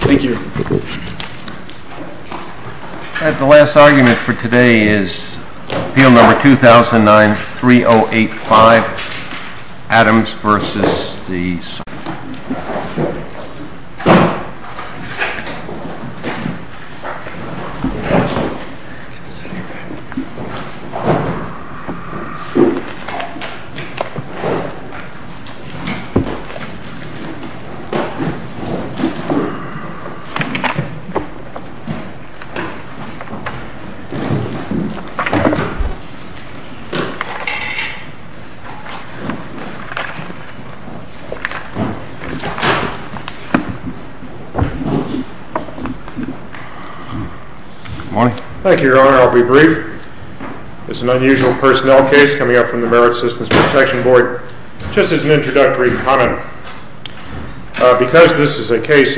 Thank you. The last argument for today is appeal number 2009-3085, Adams v. SSA. Thank you, Your Honor. I'll be brief. It's an unusual personnel case coming up from the case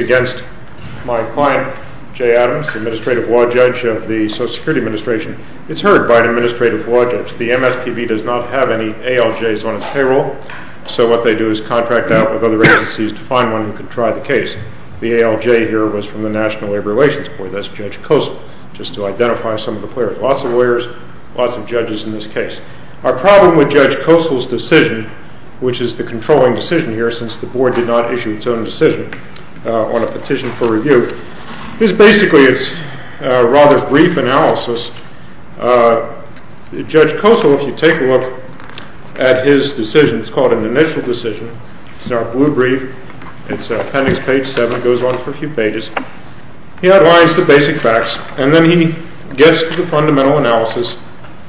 against my client, Jay Adams, Administrative Law Judge of the Social Security Administration. It's heard by an Administrative Law Judge. The MSPB does not have any ALJs on its payroll, so what they do is contract out with other agencies to find one who could try the case. The ALJ here was from the National Labor Relations Board. That's Judge Kossel, just to identify some of the players. Lots of lawyers, lots of judges in this case. Our problem with Judge Kossel's decision, which is the controlling decision here since the decision on a petition for review, is basically it's a rather brief analysis. Judge Kossel, if you take a look at his decision, it's called an initial decision. It's in our blue brief. It's appendix page 7. It goes on for a few pages. He outlines the basic facts, and then he gets to the fundamental analysis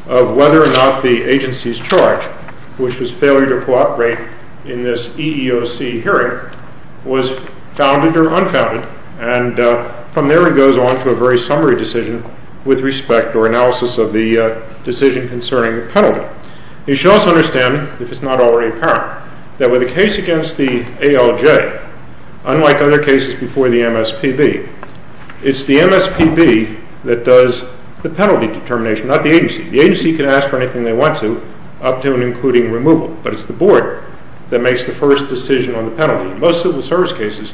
of whether or not the agency's charge, which was failure to cooperate in this EEOC hearing, was founded or unfounded. And from there, he goes on to a very summary decision with respect or analysis of the decision concerning the penalty. You should also understand, if it's not already apparent, that with a case against the ALJ, unlike other cases before the MSPB, it's the MSPB that does the penalty determination, not the agency. The agency can ask for anything they want to, up to and including removal, but it's the board that makes the first decision on the penalty. In most civil service cases,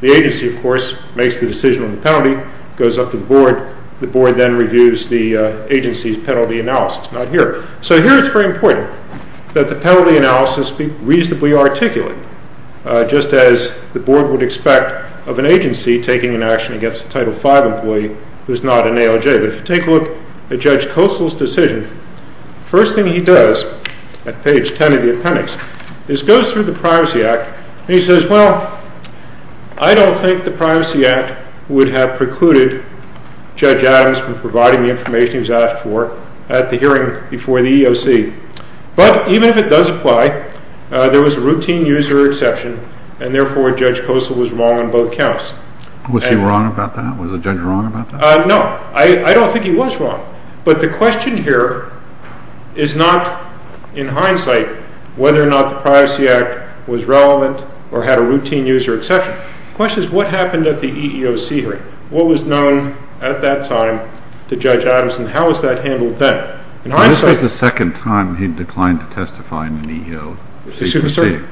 the agency, of course, makes the decision on the penalty, goes up to the board. The board then reviews the agency's penalty analysis, not here. So here it's very important that the penalty analysis be reasonably articulate, just as the board would expect of an agency taking an action against a Title V employee who's not an ALJ. But if you take a look at Judge Kossel's decision, the first thing he does at page 10 of the appendix is go through the Privacy Act, and he says, well, I don't think the Privacy Act would have precluded Judge Adams from providing the information he was asked for at the hearing before the EEOC. But even if it does apply, there was a routine user exception, and therefore Judge Kossel was wrong on both counts. Was he wrong about that? Was the judge wrong about that? No. I don't think he was wrong. But the question here is not, in hindsight, whether or not the Privacy Act was relevant or had a routine user exception. The question is what happened at the EEOC hearing. What was known at that time to Judge Adams, and how was that handled then? This was the second time he had declined to testify in an EEOC proceeding. Excuse me, sir?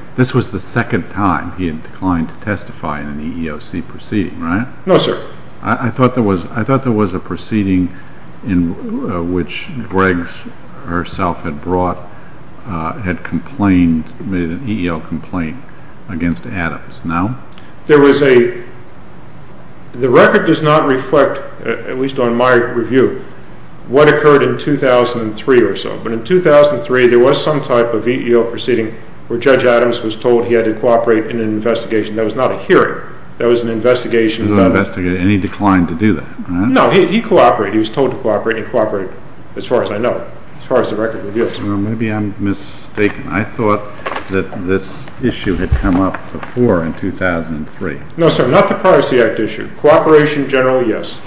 No, sir. The record does not reflect, at least on my review, what occurred in 2003 or so. But in 2003 there was some type of EEOC proceeding where Judge Adams was told he had to cooperate in an investigation. That was not a hearing. That was an investigation. He was not investigated, and he declined to do that. No. He cooperated. He was told to cooperate, and he cooperated, as far as I know, as far as the record reveals. Maybe I'm mistaken. I thought that this issue had come up before in 2003. No, sir. Not the Privacy Act issue. Cooperation generally, yes.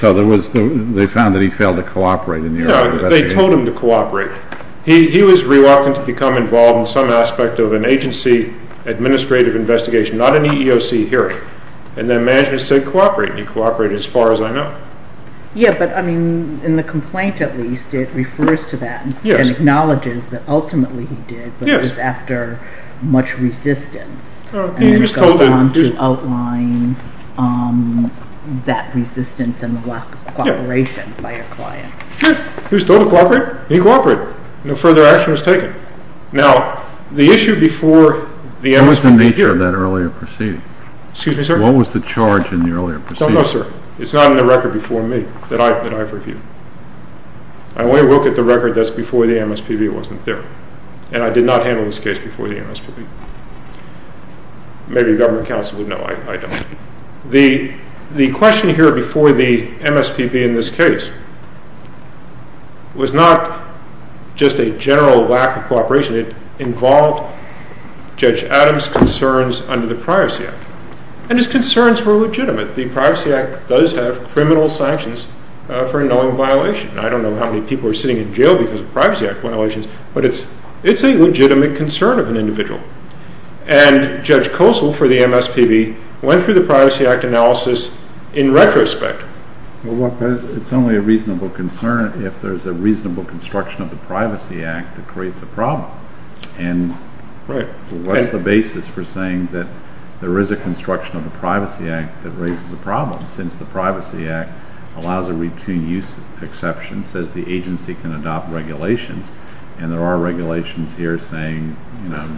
So they found that he failed to cooperate in the EEOC investigation? No. They told him to cooperate. He was reluctant to become involved in some aspect of an agency administrative investigation, not an EEOC hearing, and then management said cooperate, and he cooperated, as far as I know. Yes, but in the complaint, at least, it refers to that and acknowledges that ultimately he did, but it was after much resistance, and then it goes on to outline that resistance and the lack of cooperation by a client. He was told to cooperate. He cooperated. No further action was taken. Now, the issue before the MSPB hearing. What was the nature of that earlier proceeding? Excuse me, sir? What was the charge in the earlier proceeding? No, no, sir. It's not in the record before me that I've reviewed. I only look at the record that's before the MSPB wasn't there, and I did not handle this case before the MSPB. Maybe government counsel would know. I don't. The question here before the MSPB in this case was not just a general lack of cooperation. It involved Judge Adams' concerns under the Privacy Act, and his concerns were legitimate. The Privacy Act does have criminal sanctions for knowing violation. I don't know how many people are sitting in jail because of Privacy Act violations, And Judge Kozol for the MSPB went through the Privacy Act analysis in retrospect. Well, it's only a reasonable concern if there's a reasonable construction of the Privacy Act that creates a problem. And what's the basis for saying that there is a construction of the Privacy Act that raises a problem, since the Privacy Act allows a routine use exception, says the agency can adopt regulations, and there are regulations here saying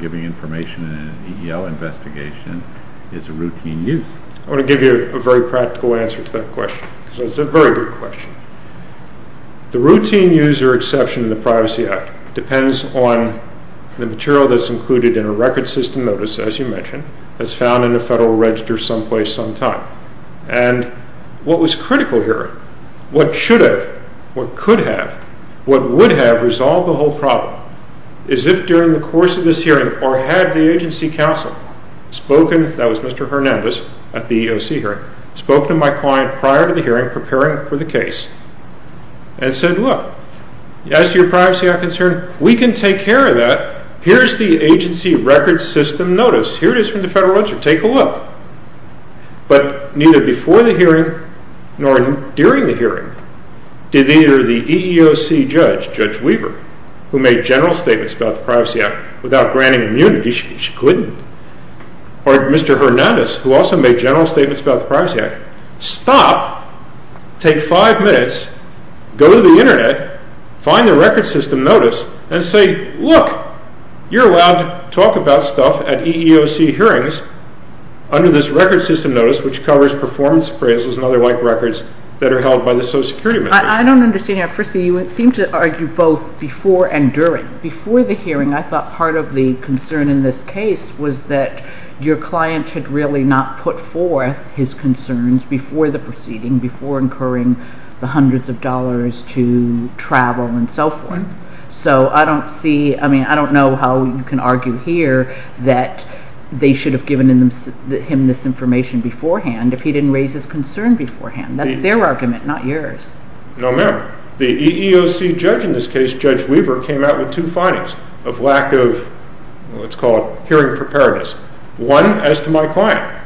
giving information in an EEO investigation is a routine use. I want to give you a very practical answer to that question, because it's a very good question. The routine user exception in the Privacy Act depends on the material that's included in a record system notice, as you mentioned, that's found in a federal register someplace sometime. And what was critical here, what should have, what could have, what would have resolved the whole problem, is if during the course of this hearing, or had the agency counsel spoken, that was Mr. Hernandez at the EEOC hearing, spoken to my client prior to the hearing preparing for the case, and said, look, as to your Privacy Act concern, we can take care of that, here's the agency record system notice, here it is from the federal register, take a look. But neither before the hearing, nor during the hearing, did either the EEOC judge, Judge Weaver, who made general statements about the Privacy Act, without granting immunity, she couldn't, or Mr. Hernandez, who also made general statements about the Privacy Act, stop, take five minutes, go to the Internet, find the record system notice, and say, look, you're allowed to talk about stuff at EEOC hearings, under this record system notice, which covers performance appraisals and other white records that are held by the Social Security Administration. I don't understand that. Firstly, you seem to argue both before and during. Before the hearing, I thought part of the concern in this case was that your client had really not put forth his concerns before the proceeding, before incurring the hundreds of dollars to travel and so forth. So I don't see, I mean, I don't know how you can argue here that they should have given him this information beforehand if he didn't raise his concern beforehand. That's their argument, not yours. No, ma'am. The EEOC judge in this case, Judge Weaver, came out with two findings of lack of, let's call it, hearing preparedness. One, as to my client.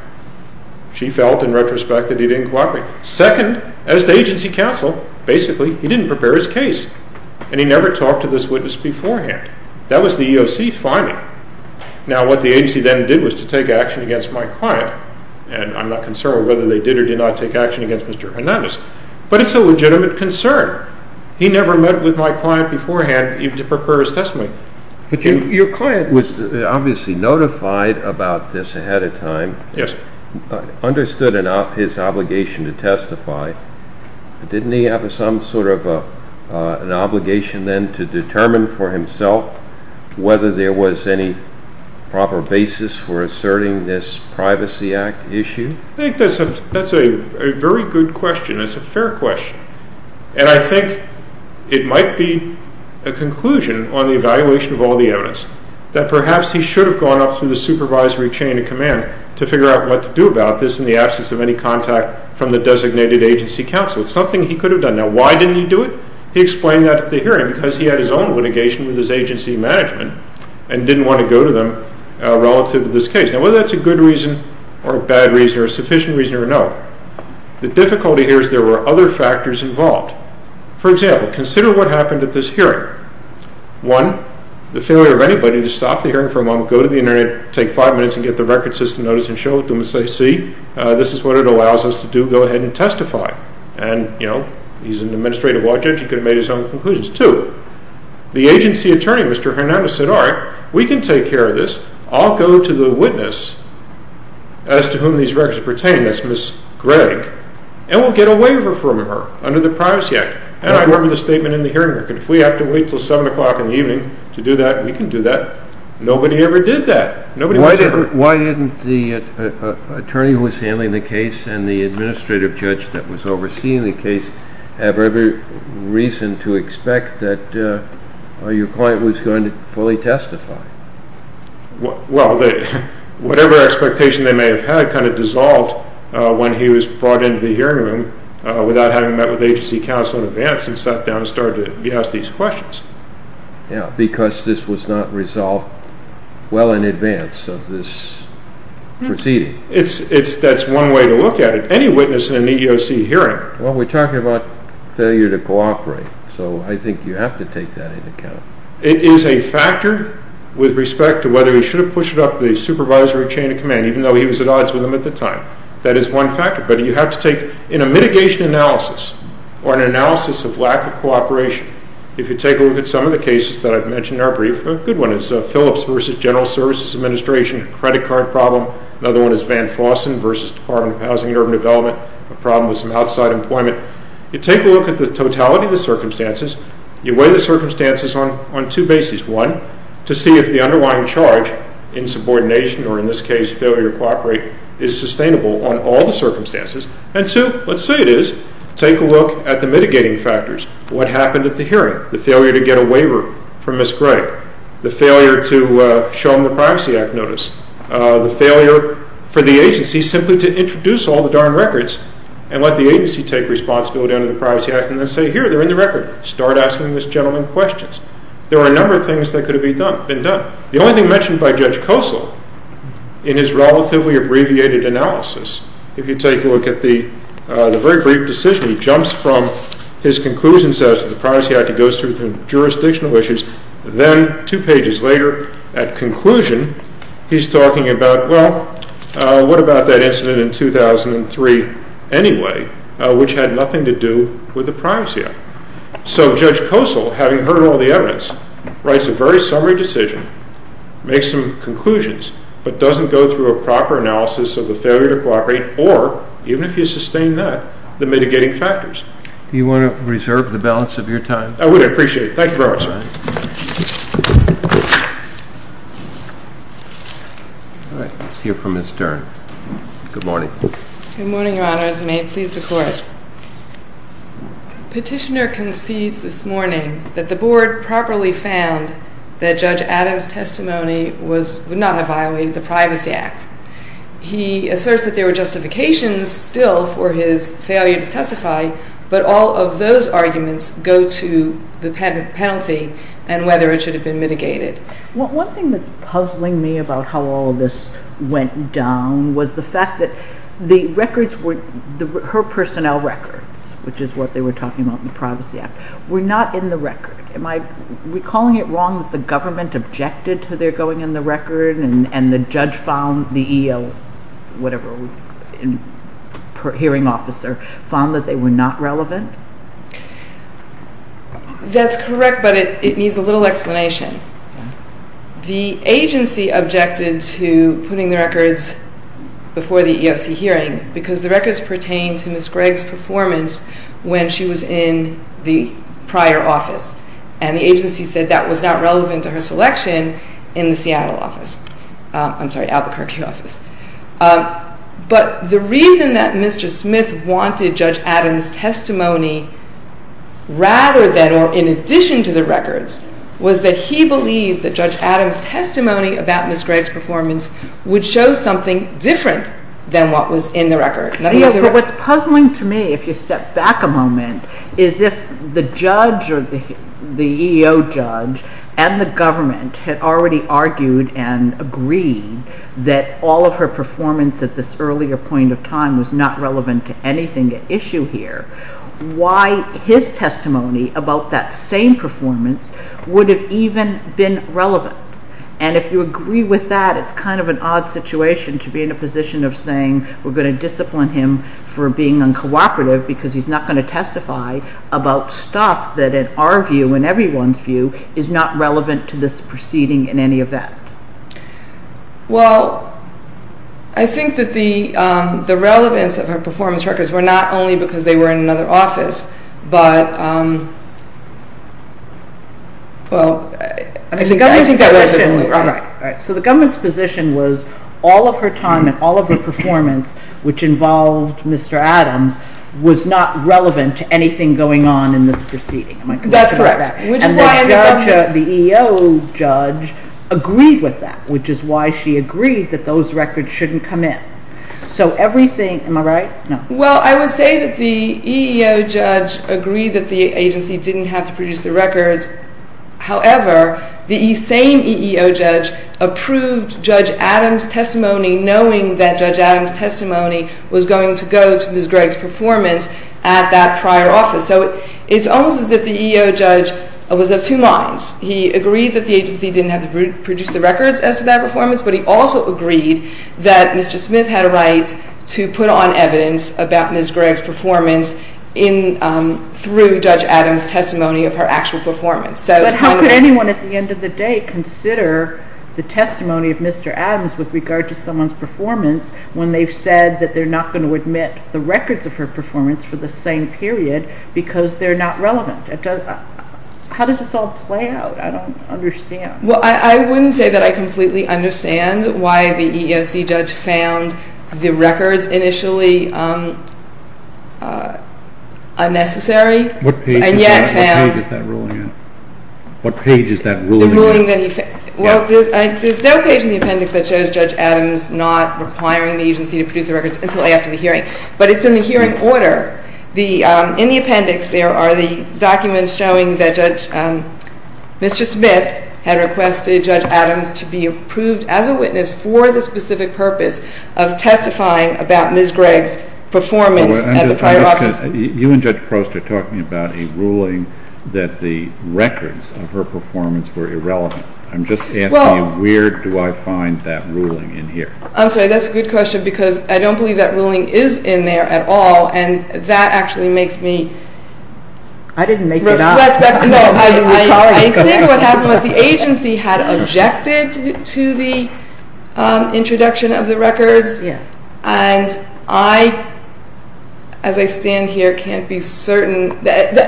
She felt, in retrospect, that he didn't cooperate. Second, as to agency counsel, basically, he didn't prepare his case, and he never talked to this witness beforehand. That was the EEOC finding. Now, what the agency then did was to take action against my client, and I'm not concerned whether they did or did not take action against Mr. Hernandez, but it's a legitimate concern. He never met with my client beforehand, even to prepare his testimony. Your client was obviously notified about this ahead of time, understood his obligation to testify. Didn't he have some sort of an obligation then to determine for himself whether there was any proper basis for asserting this Privacy Act issue? I think that's a very good question. It's a fair question. And I think it might be a conclusion on the evaluation of all the evidence that perhaps he should have gone up through the supervisory chain of command to figure out what to do about this in the absence of any contact from the designated agency counsel. It's something he could have done. Now, why didn't he do it? He explained that at the hearing because he had his own litigation with his agency management and didn't want to go to them relative to this case. Now, whether that's a good reason or a bad reason or a sufficient reason or no, the difficulty here is there were other factors involved. For example, consider what happened at this hearing. One, the failure of anybody to stop the hearing for a moment, go to the Internet, take five minutes and get the record system notice and show it to them and say, see, this is what it allows us to do. Go ahead and testify. And, you know, he's an administrative law judge. He could have made his own conclusions. Two, the agency attorney, Mr. Hernandez, said, all right, we can take care of this. I'll go to the witness as to whom these records pertain, that's Ms. Gregg, and we'll get a waiver from her under the Privacy Act. And I remember the statement in the hearing. If we have to wait until 7 o'clock in the evening to do that, we can do that. Nobody ever did that. Nobody ever did that. Why didn't the attorney who was handling the case and the administrative judge that was overseeing the case have every reason to expect that your client was going to fully testify? Well, whatever expectation they may have had kind of dissolved when he was brought into the hearing room without having met with agency counsel in advance and sat down and started to be asked these questions. Yeah, because this was not resolved well in advance of this proceeding. That's one way to look at it. Any witness in an EEOC hearing. Well, we're talking about failure to cooperate, so I think you have to take that into account. It is a factor with respect to whether he should have pushed up the supervisory chain of command, even though he was at odds with them at the time. That is one factor, but you have to take, in a mitigation analysis or an analysis of lack of cooperation, if you take a look at some of the cases that I've mentioned in our brief, a good one is Phillips v. General Services Administration, a credit card problem. Another one is Van Fossen v. Department of Housing and Urban Development, a problem with some outside employment. You take a look at the totality of the circumstances. You weigh the circumstances on two bases. One, to see if the underlying charge, insubordination or in this case failure to cooperate, is sustainable on all the circumstances. And two, let's say it is, take a look at the mitigating factors. What happened at the hearing? The failure to get a waiver from Ms. Gregg, the failure to show him the Privacy Act notice, the failure for the agency simply to introduce all the darn records and let the agency take responsibility under the Privacy Act and then say, here, they're in the record. Start asking this gentleman questions. There are a number of things that could have been done. The only thing mentioned by Judge Kosol in his relatively abbreviated analysis, if you take a look at the very brief decision, he jumps from his conclusions as to the Privacy Act, he goes through the jurisdictional issues, then two pages later, at conclusion, he's talking about, well, what about that incident in 2003 anyway, which had nothing to do with the Privacy Act? So Judge Kosol, having heard all the evidence, writes a very summary decision, makes some conclusions, but doesn't go through a proper analysis of the failure to cooperate or, even if you sustain that, the mitigating factors. Do you want to reserve the balance of your time? I would appreciate it. Thank you very much, sir. All right. Let's hear from Ms. Dern. Good morning. Good morning, Your Honors, and may it please the Court. Petitioner concedes this morning that the Board properly found that Judge Adams' testimony would not have violated the Privacy Act. He asserts that there were justifications still for his failure to testify, but all of those arguments go to the penalty and whether it should have been mitigated. One thing that's puzzling me about how all of this went down was the fact that her personnel records, which is what they were talking about in the Privacy Act, were not in the record. Am I recalling it wrong that the government objected to their going in the record and the judge found the EEOC, whatever, hearing officer, found that they were not relevant? That's correct, but it needs a little explanation. The agency objected to putting the records before the EEOC hearing because the records pertain to Ms. Gregg's performance when she was in the prior office, and the agency said that was not relevant to her selection in the Seattle office. I'm sorry, Albuquerque office. But the reason that Mr. Smith wanted Judge Adams' testimony rather than or in addition to the records was that he believed that Judge Adams' testimony about Ms. Gregg's performance would show something different than what was in the record. What's puzzling to me, if you step back a moment, is if the judge or the EEO judge and the government had already argued and agreed that all of her performance at this earlier point of time was not relevant to anything at issue here, why his testimony about that same performance would have even been relevant? And if you agree with that, it's kind of an odd situation to be in a position of saying we're going to discipline him for being uncooperative because he's not going to testify about stuff that in our view, in everyone's view, is not relevant to this proceeding in any event. Well, I think that the relevance of her performance records were not only because they were in another office, but, well, I think that was it. So the government's position was all of her time and all of her performance, which involved Mr. Adams, was not relevant to anything going on in this proceeding. That's correct. And the EEO judge agreed with that, which is why she agreed that those records shouldn't come in. So everything, am I right? Well, I would say that the EEO judge agreed that the agency didn't have to produce the records. However, the same EEO judge approved Judge Adams' testimony, knowing that Judge Adams' testimony was going to go to Ms. Gregg's performance at that prior office. So it's almost as if the EEO judge was of two minds. He agreed that the agency didn't have to produce the records as to that performance, but he also agreed that Mr. Smith had a right to put on evidence about Ms. Gregg's performance through Judge Adams' testimony of her actual performance. But how could anyone at the end of the day consider the testimony of Mr. Adams with regard to someone's performance when they've said that they're not going to admit the records of her performance for the same period because they're not relevant? How does this all play out? I don't understand. Well, I wouldn't say that I completely understand why the EEOC judge found the records initially unnecessary. What page is that ruling in? What page is that ruling in? Well, there's no page in the appendix that shows Judge Adams not requiring the agency to produce the records until after the hearing, but it's in the hearing order. In the appendix, there are the documents showing that Mr. Smith had requested Judge Adams to be approved as a witness for the specific purpose of testifying about Ms. Gregg's performance at the prior office. You and Judge Prost are talking about a ruling that the records of her performance were irrelevant. I'm just asking you where do I find that ruling in here? I'm sorry, that's a good question because I don't believe that ruling is in there at all and that actually makes me reflect. I didn't make that up. No, I think what happened was the agency had objected to the introduction of the records and I, as I stand here, can't be certain.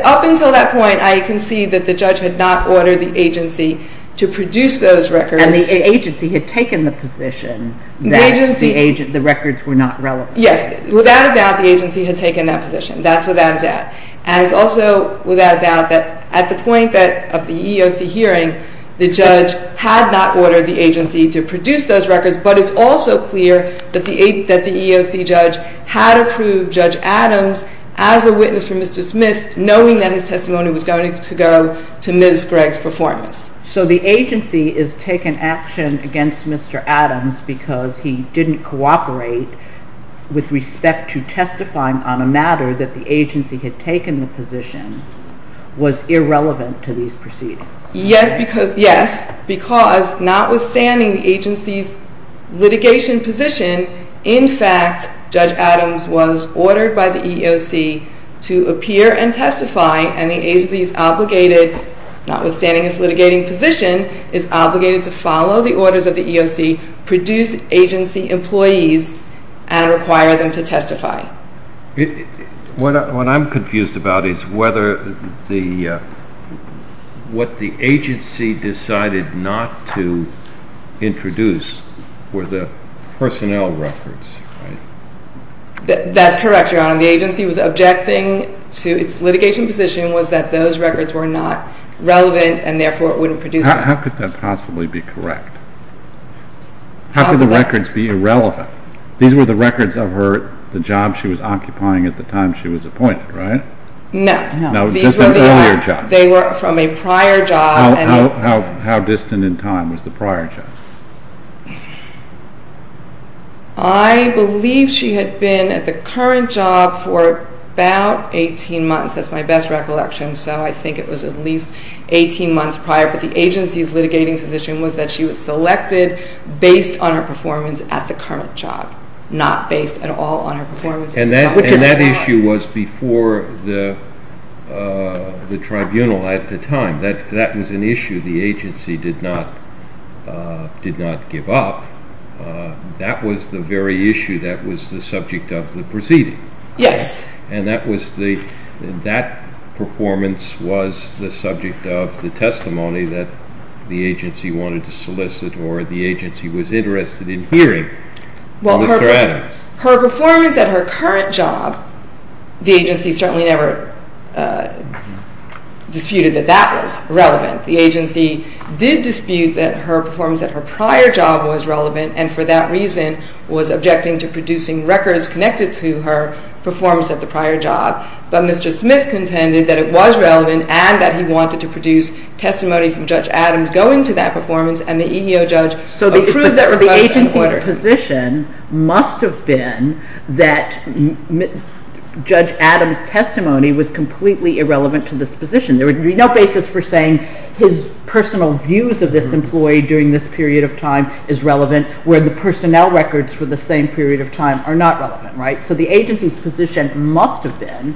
Up until that point, I can see that the judge had not ordered the agency to produce those records. And the agency had taken the position that the records were not relevant. Yes, without a doubt, the agency had taken that position. That's without a doubt. And it's also without a doubt that at the point of the EEOC hearing, the judge had not ordered the agency to produce those records, but it's also clear that the EEOC judge had approved Judge Adams as a witness for Mr. Smith knowing that his testimony was going to go to Ms. Gregg's performance. So the agency is taking action against Mr. Adams because he didn't cooperate with respect to testifying on a matter that the agency had taken the position was irrelevant to these proceedings. Yes, because notwithstanding the agency's litigation position, in fact, Judge Adams was ordered by the EEOC to appear and testify and the agency is obligated, notwithstanding its litigating position, is obligated to follow the orders of the EEOC, produce agency employees, and require them to testify. What I'm confused about is whether what the agency decided not to introduce were the personnel records. That's correct, Your Honor. The agency was objecting to its litigation position was that those records were not relevant and therefore it wouldn't produce them. How could that possibly be correct? How could the records be irrelevant? These were the records of the job she was occupying at the time she was appointed, right? No. No, these were the earlier jobs. They were from a prior job. How distant in time was the prior job? I believe she had been at the current job for about 18 months. That's my best recollection, so I think it was at least 18 months prior, but the agency's litigating position was that she was selected based on her performance at the current job, not based at all on her performance at the job. And that issue was before the tribunal at the time. That was an issue the agency did not give up. That was the very issue that was the subject of the proceeding. Yes. And that performance was the subject of the testimony that the agency wanted to solicit or the agency was interested in hearing. Well, her performance at her current job, the agency certainly never disputed that that was relevant. The agency did dispute that her performance at her prior job was relevant and for that reason was objecting to producing records connected to her performance at the prior job. But Mr. Smith contended that it was relevant and that he wanted to produce testimony from Judge Adams going to that performance and the EEO judge approve that request and order. So the agency's position must have been that Judge Adams' testimony was completely irrelevant to this position. There would be no basis for saying his personal views of this employee during this period of time is relevant where the personnel records for the same period of time are not relevant, right? So the agency's position must have been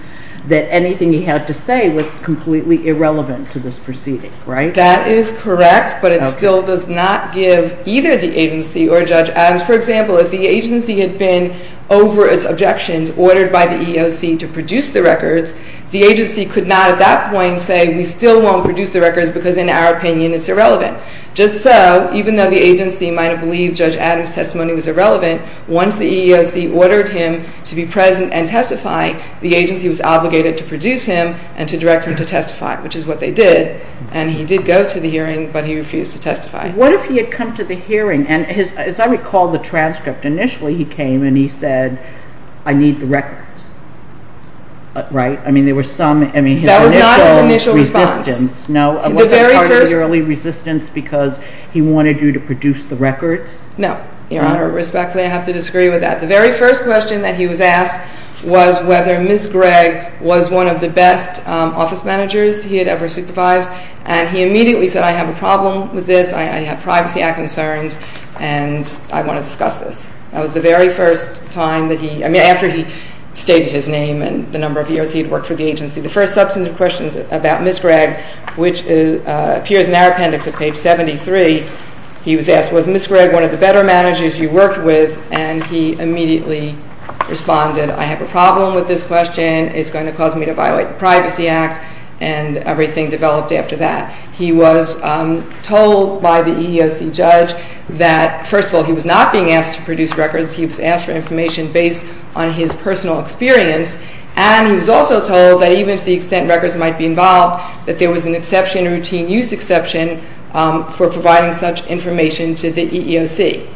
that anything he had to say was completely irrelevant to this proceeding, right? That is correct, but it still does not give either the agency or Judge Adams. For example, if the agency had been over its objections ordered by the EEOC to produce the records, the agency could not at that point say we still won't produce the records because in our opinion it's irrelevant. Just so, even though the agency might have believed Judge Adams' testimony was irrelevant, once the EEOC ordered him to be present and testify, the agency was obligated to produce him and to direct him to testify, which is what they did, and he did go to the hearing, but he refused to testify. What if he had come to the hearing, and as I recall the transcript, initially he came and he said I need the records, right? I mean there were some initial resistance. That was not his initial response. Was that part of the early resistance because he wanted you to produce the records? No, Your Honor, respectfully I have to disagree with that. The very first question that he was asked was whether Ms. Gregg was one of the best office managers he had ever supervised, and he immediately said I have a problem with this, I have privacy concerns, and I want to discuss this. That was the very first time that he, I mean after he stated his name and the number of years he had worked for the agency. The first substantive question about Ms. Gregg, which appears in our appendix at page 73, he was asked was Ms. Gregg one of the better managers you worked with, and he immediately responded, I have a problem with this question, it's going to cause me to violate the Privacy Act, and everything developed after that. He was told by the EEOC judge that first of all he was not being asked to produce records, he was asked for information based on his personal experience, and he was also told that even to the extent records might be involved, that there was an exception, a routine use exception, for providing such information to the EEOC.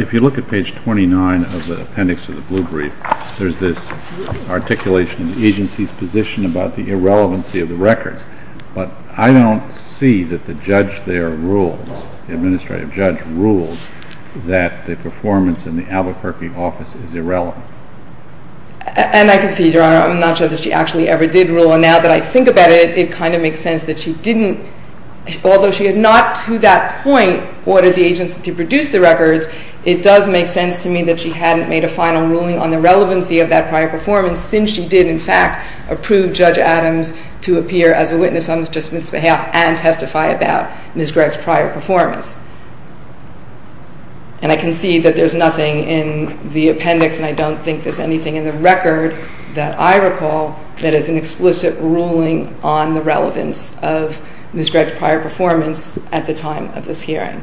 If you look at page 29 of the appendix to the blue brief, there's this articulation in the agency's position about the irrelevancy of the records, but I don't see that the judge there rules, the administrative judge rules, that the performance in the Albuquerque office is irrelevant. And I can see, Your Honor, I'm not sure that she actually ever did rule, and now that I think about it, it kind of makes sense that she didn't, although she had not to that point ordered the agency to produce the records, it does make sense to me that she hadn't made a final ruling on the relevancy of that prior performance, since she did in fact approve Judge Adams to appear as a witness on Mr. Smith's behalf and testify about Ms. Gregg's prior performance. And I can see that there's nothing in the appendix, and I don't think there's anything in the record that I recall that is an explicit ruling on the relevance of Ms. Gregg's prior performance at the time of this hearing.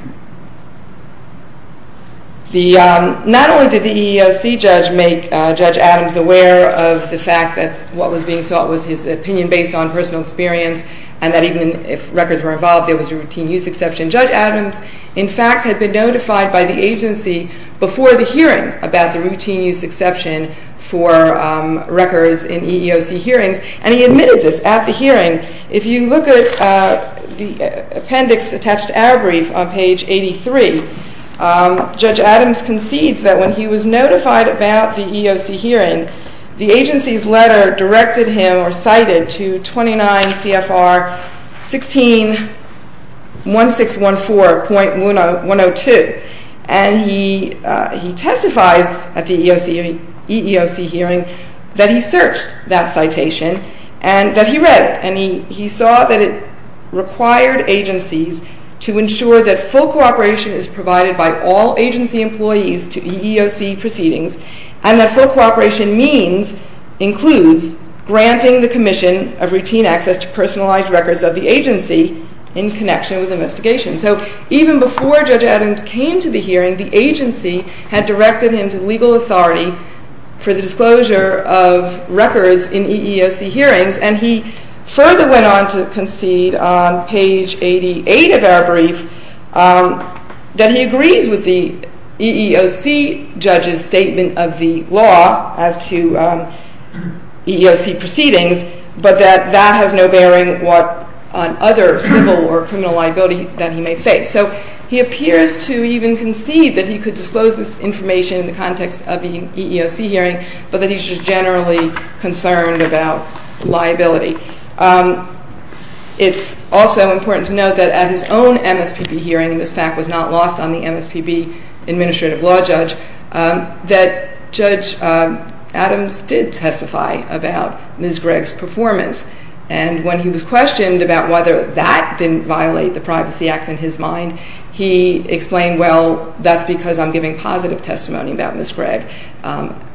Not only did the EEOC judge make Judge Adams aware of the fact that what was being sought was his opinion based on personal experience, and that even if records were involved, there was a routine use exception, Judge Adams in fact had been notified by the agency before the hearing about the routine use exception for records in EEOC hearings, and he admitted this at the hearing. If you look at the appendix attached to our brief on page 83, Judge Adams concedes that when he was notified about the EEOC hearing, the agency's letter directed him or cited to 29 CFR 161614.102, and he testifies at the EEOC hearing that he searched that citation and that he read it, and he saw that it required agencies to ensure that full cooperation is provided by all agency employees to EEOC proceedings, and that full cooperation means, includes, granting the commission of routine access to personalized records of the agency in connection with investigation. So even before Judge Adams came to the hearing, the agency had directed him to legal authority for the disclosure of records in EEOC hearings, and he further went on to concede on page 88 of our brief that he agrees with the EEOC judge's statement of the law as to EEOC proceedings, but that that has no bearing on other civil or criminal liability that he may face. So he appears to even concede that he could disclose this information in the context of the EEOC hearing, but that he's just generally concerned about liability. It's also important to note that at his own MSPB hearing, and this fact was not lost on the MSPB administrative law judge, that Judge Adams did testify about Ms. Gregg's performance, and when he was questioned about whether that didn't violate the Privacy Act in his mind, he explained, well, that's because I'm giving positive testimony about Ms. Gregg,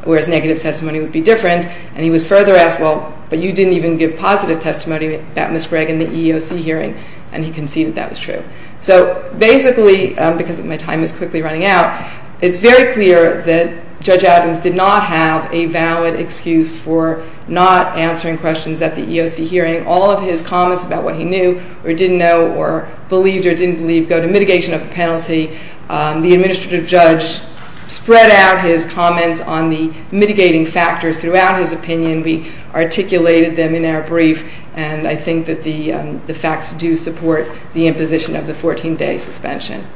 whereas negative testimony would be different, and he was further asked, well, but you didn't even give positive testimony about Ms. Gregg in the EEOC hearing, and he conceded that was true. So basically, because my time is quickly running out, it's very clear that Judge Adams did not have a valid excuse for not answering questions at the EEOC hearing. All of his comments about what he knew or didn't know or believed or didn't believe go to mitigation of the penalty. The administrative judge spread out his comments on the mitigating factors throughout his opinion. We articulated them in our brief, and I think that the facts do support the imposition of the 14-day suspension.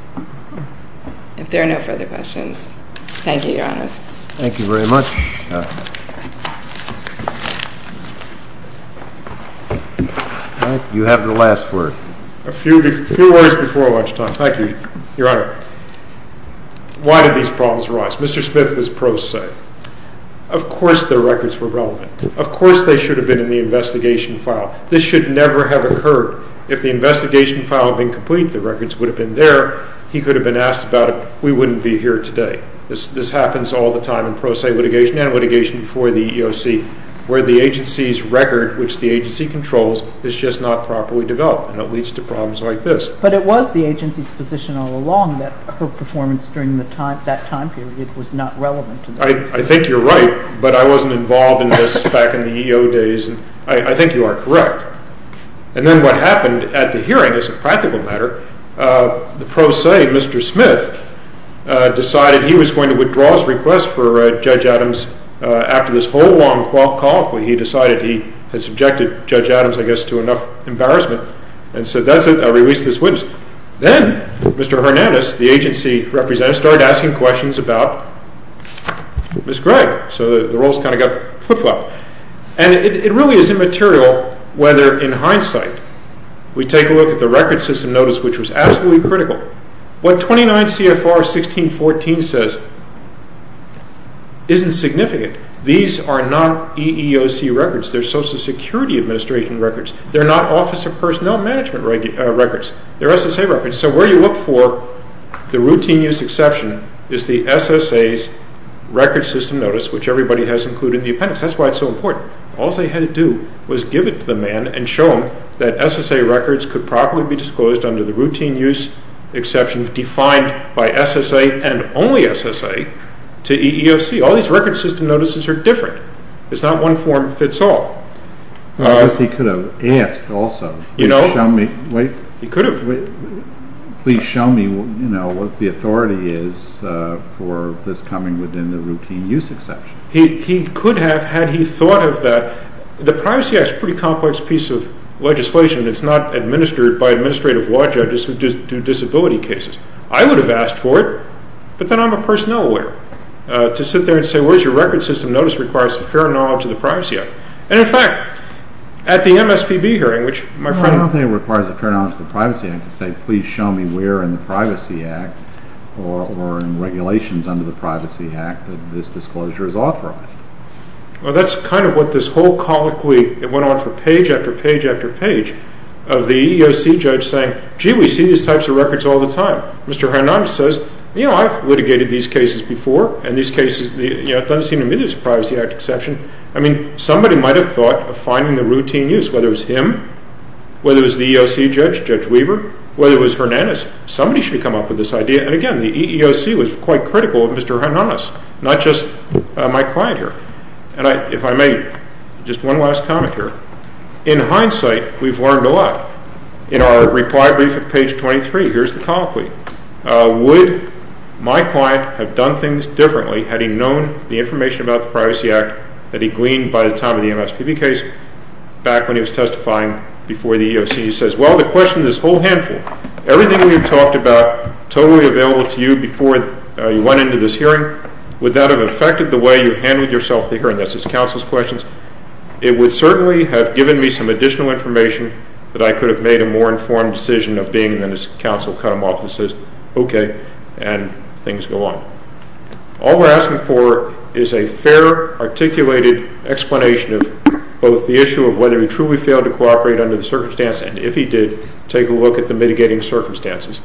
If there are no further questions, thank you, Your Honors. Thank you very much. Mike, you have the last word. A few words before lunchtime, thank you, Your Honor. Why did these problems arise? Mr. Smith and his prose say, of course their records were relevant. Of course they should have been in the investigation file. This should never have occurred. If the investigation file had been complete, the records would have been there. He could have been asked about it. We wouldn't be here today. This happens all the time in prose litigation and litigation before the EEOC, where the agency's record, which the agency controls, is just not properly developed, and it leads to problems like this. But it was the agency's position all along that her performance during that time period was not relevant. I think you're right, but I wasn't involved in this back in the EEO days. I think you are correct. And then what happened at the hearing, as a practical matter, the prose, Mr. Smith, decided he was going to withdraw his request for Judge Adams after this whole long call. He decided he had subjected Judge Adams, I guess, to enough embarrassment, and said that's it, I'll release this witness. Then Mr. Hernandez, the agency representative, started asking questions about Ms. Gregg. So the roles kind of got flip-flopped. And it really is immaterial whether in hindsight we take a look at the record system notice, which was absolutely critical. What 29 CFR 1614 says isn't significant. These are not EEOC records. They're Social Security Administration records. They're not Office of Personnel Management records. They're SSA records. So where you look for the routine use exception is the SSA's record system notice, which everybody has included in the appendix. That's why it's so important. All they had to do was give it to the man and show him that SSA records could properly be disclosed under the routine use exception defined by SSA and only SSA to EEOC. All these record system notices are different. It's not one form fits all. I guess he could have asked also. You know, he could have. Please show me what the authority is for this coming within the routine use exception. He could have had he thought of that. The Privacy Act is a pretty complex piece of legislation. It's not administered by administrative law judges who do disability cases. I would have asked for it, but then I'm a personnel lawyer to sit there and say, your record system notice requires a fair knowledge of the Privacy Act. And, in fact, at the MSPB hearing, which my friend… I don't think it requires a fair knowledge of the Privacy Act to say, please show me where in the Privacy Act or in regulations under the Privacy Act that this disclosure is authorized. Well, that's kind of what this whole colloquy went on for page after page after page of the EEOC judge saying, gee, we see these types of records all the time. Mr. Hernandez says, you know, I've litigated these cases before, and these cases, you know, it doesn't seem to me there's a Privacy Act exception. I mean, somebody might have thought of finding the routine use, whether it was him, whether it was the EEOC judge, Judge Weber, whether it was Hernandez. Somebody should have come up with this idea. And, again, the EEOC was quite critical of Mr. Hernandez, not just my client here. And if I may, just one last comment here. In hindsight, we've learned a lot. In our reply brief at page 23, here's the colloquy. Would my client have done things differently had he known the information about the Privacy Act that he gleaned by the time of the MSPB case back when he was testifying before the EEOC? He says, well, the question of this whole handful, everything we've talked about totally available to you before you went into this hearing, would that have affected the way you handled yourself at the hearing? That's his counsel's questions. It would certainly have given me some additional information that I could have made a more informed decision of being and his counsel cut him off and says, okay, and things go on. All we're asking for is a fair, articulated explanation of both the issue of whether he truly failed to cooperate under the circumstance, and if he did, take a look at the mitigating circumstances.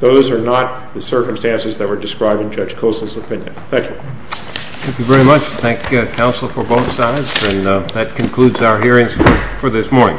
Those are not the circumstances that were described in Judge Kossel's opinion. Thank you. Thank you very much. Thank you, counsel, for both sides. And that concludes our hearings for this morning. All rise.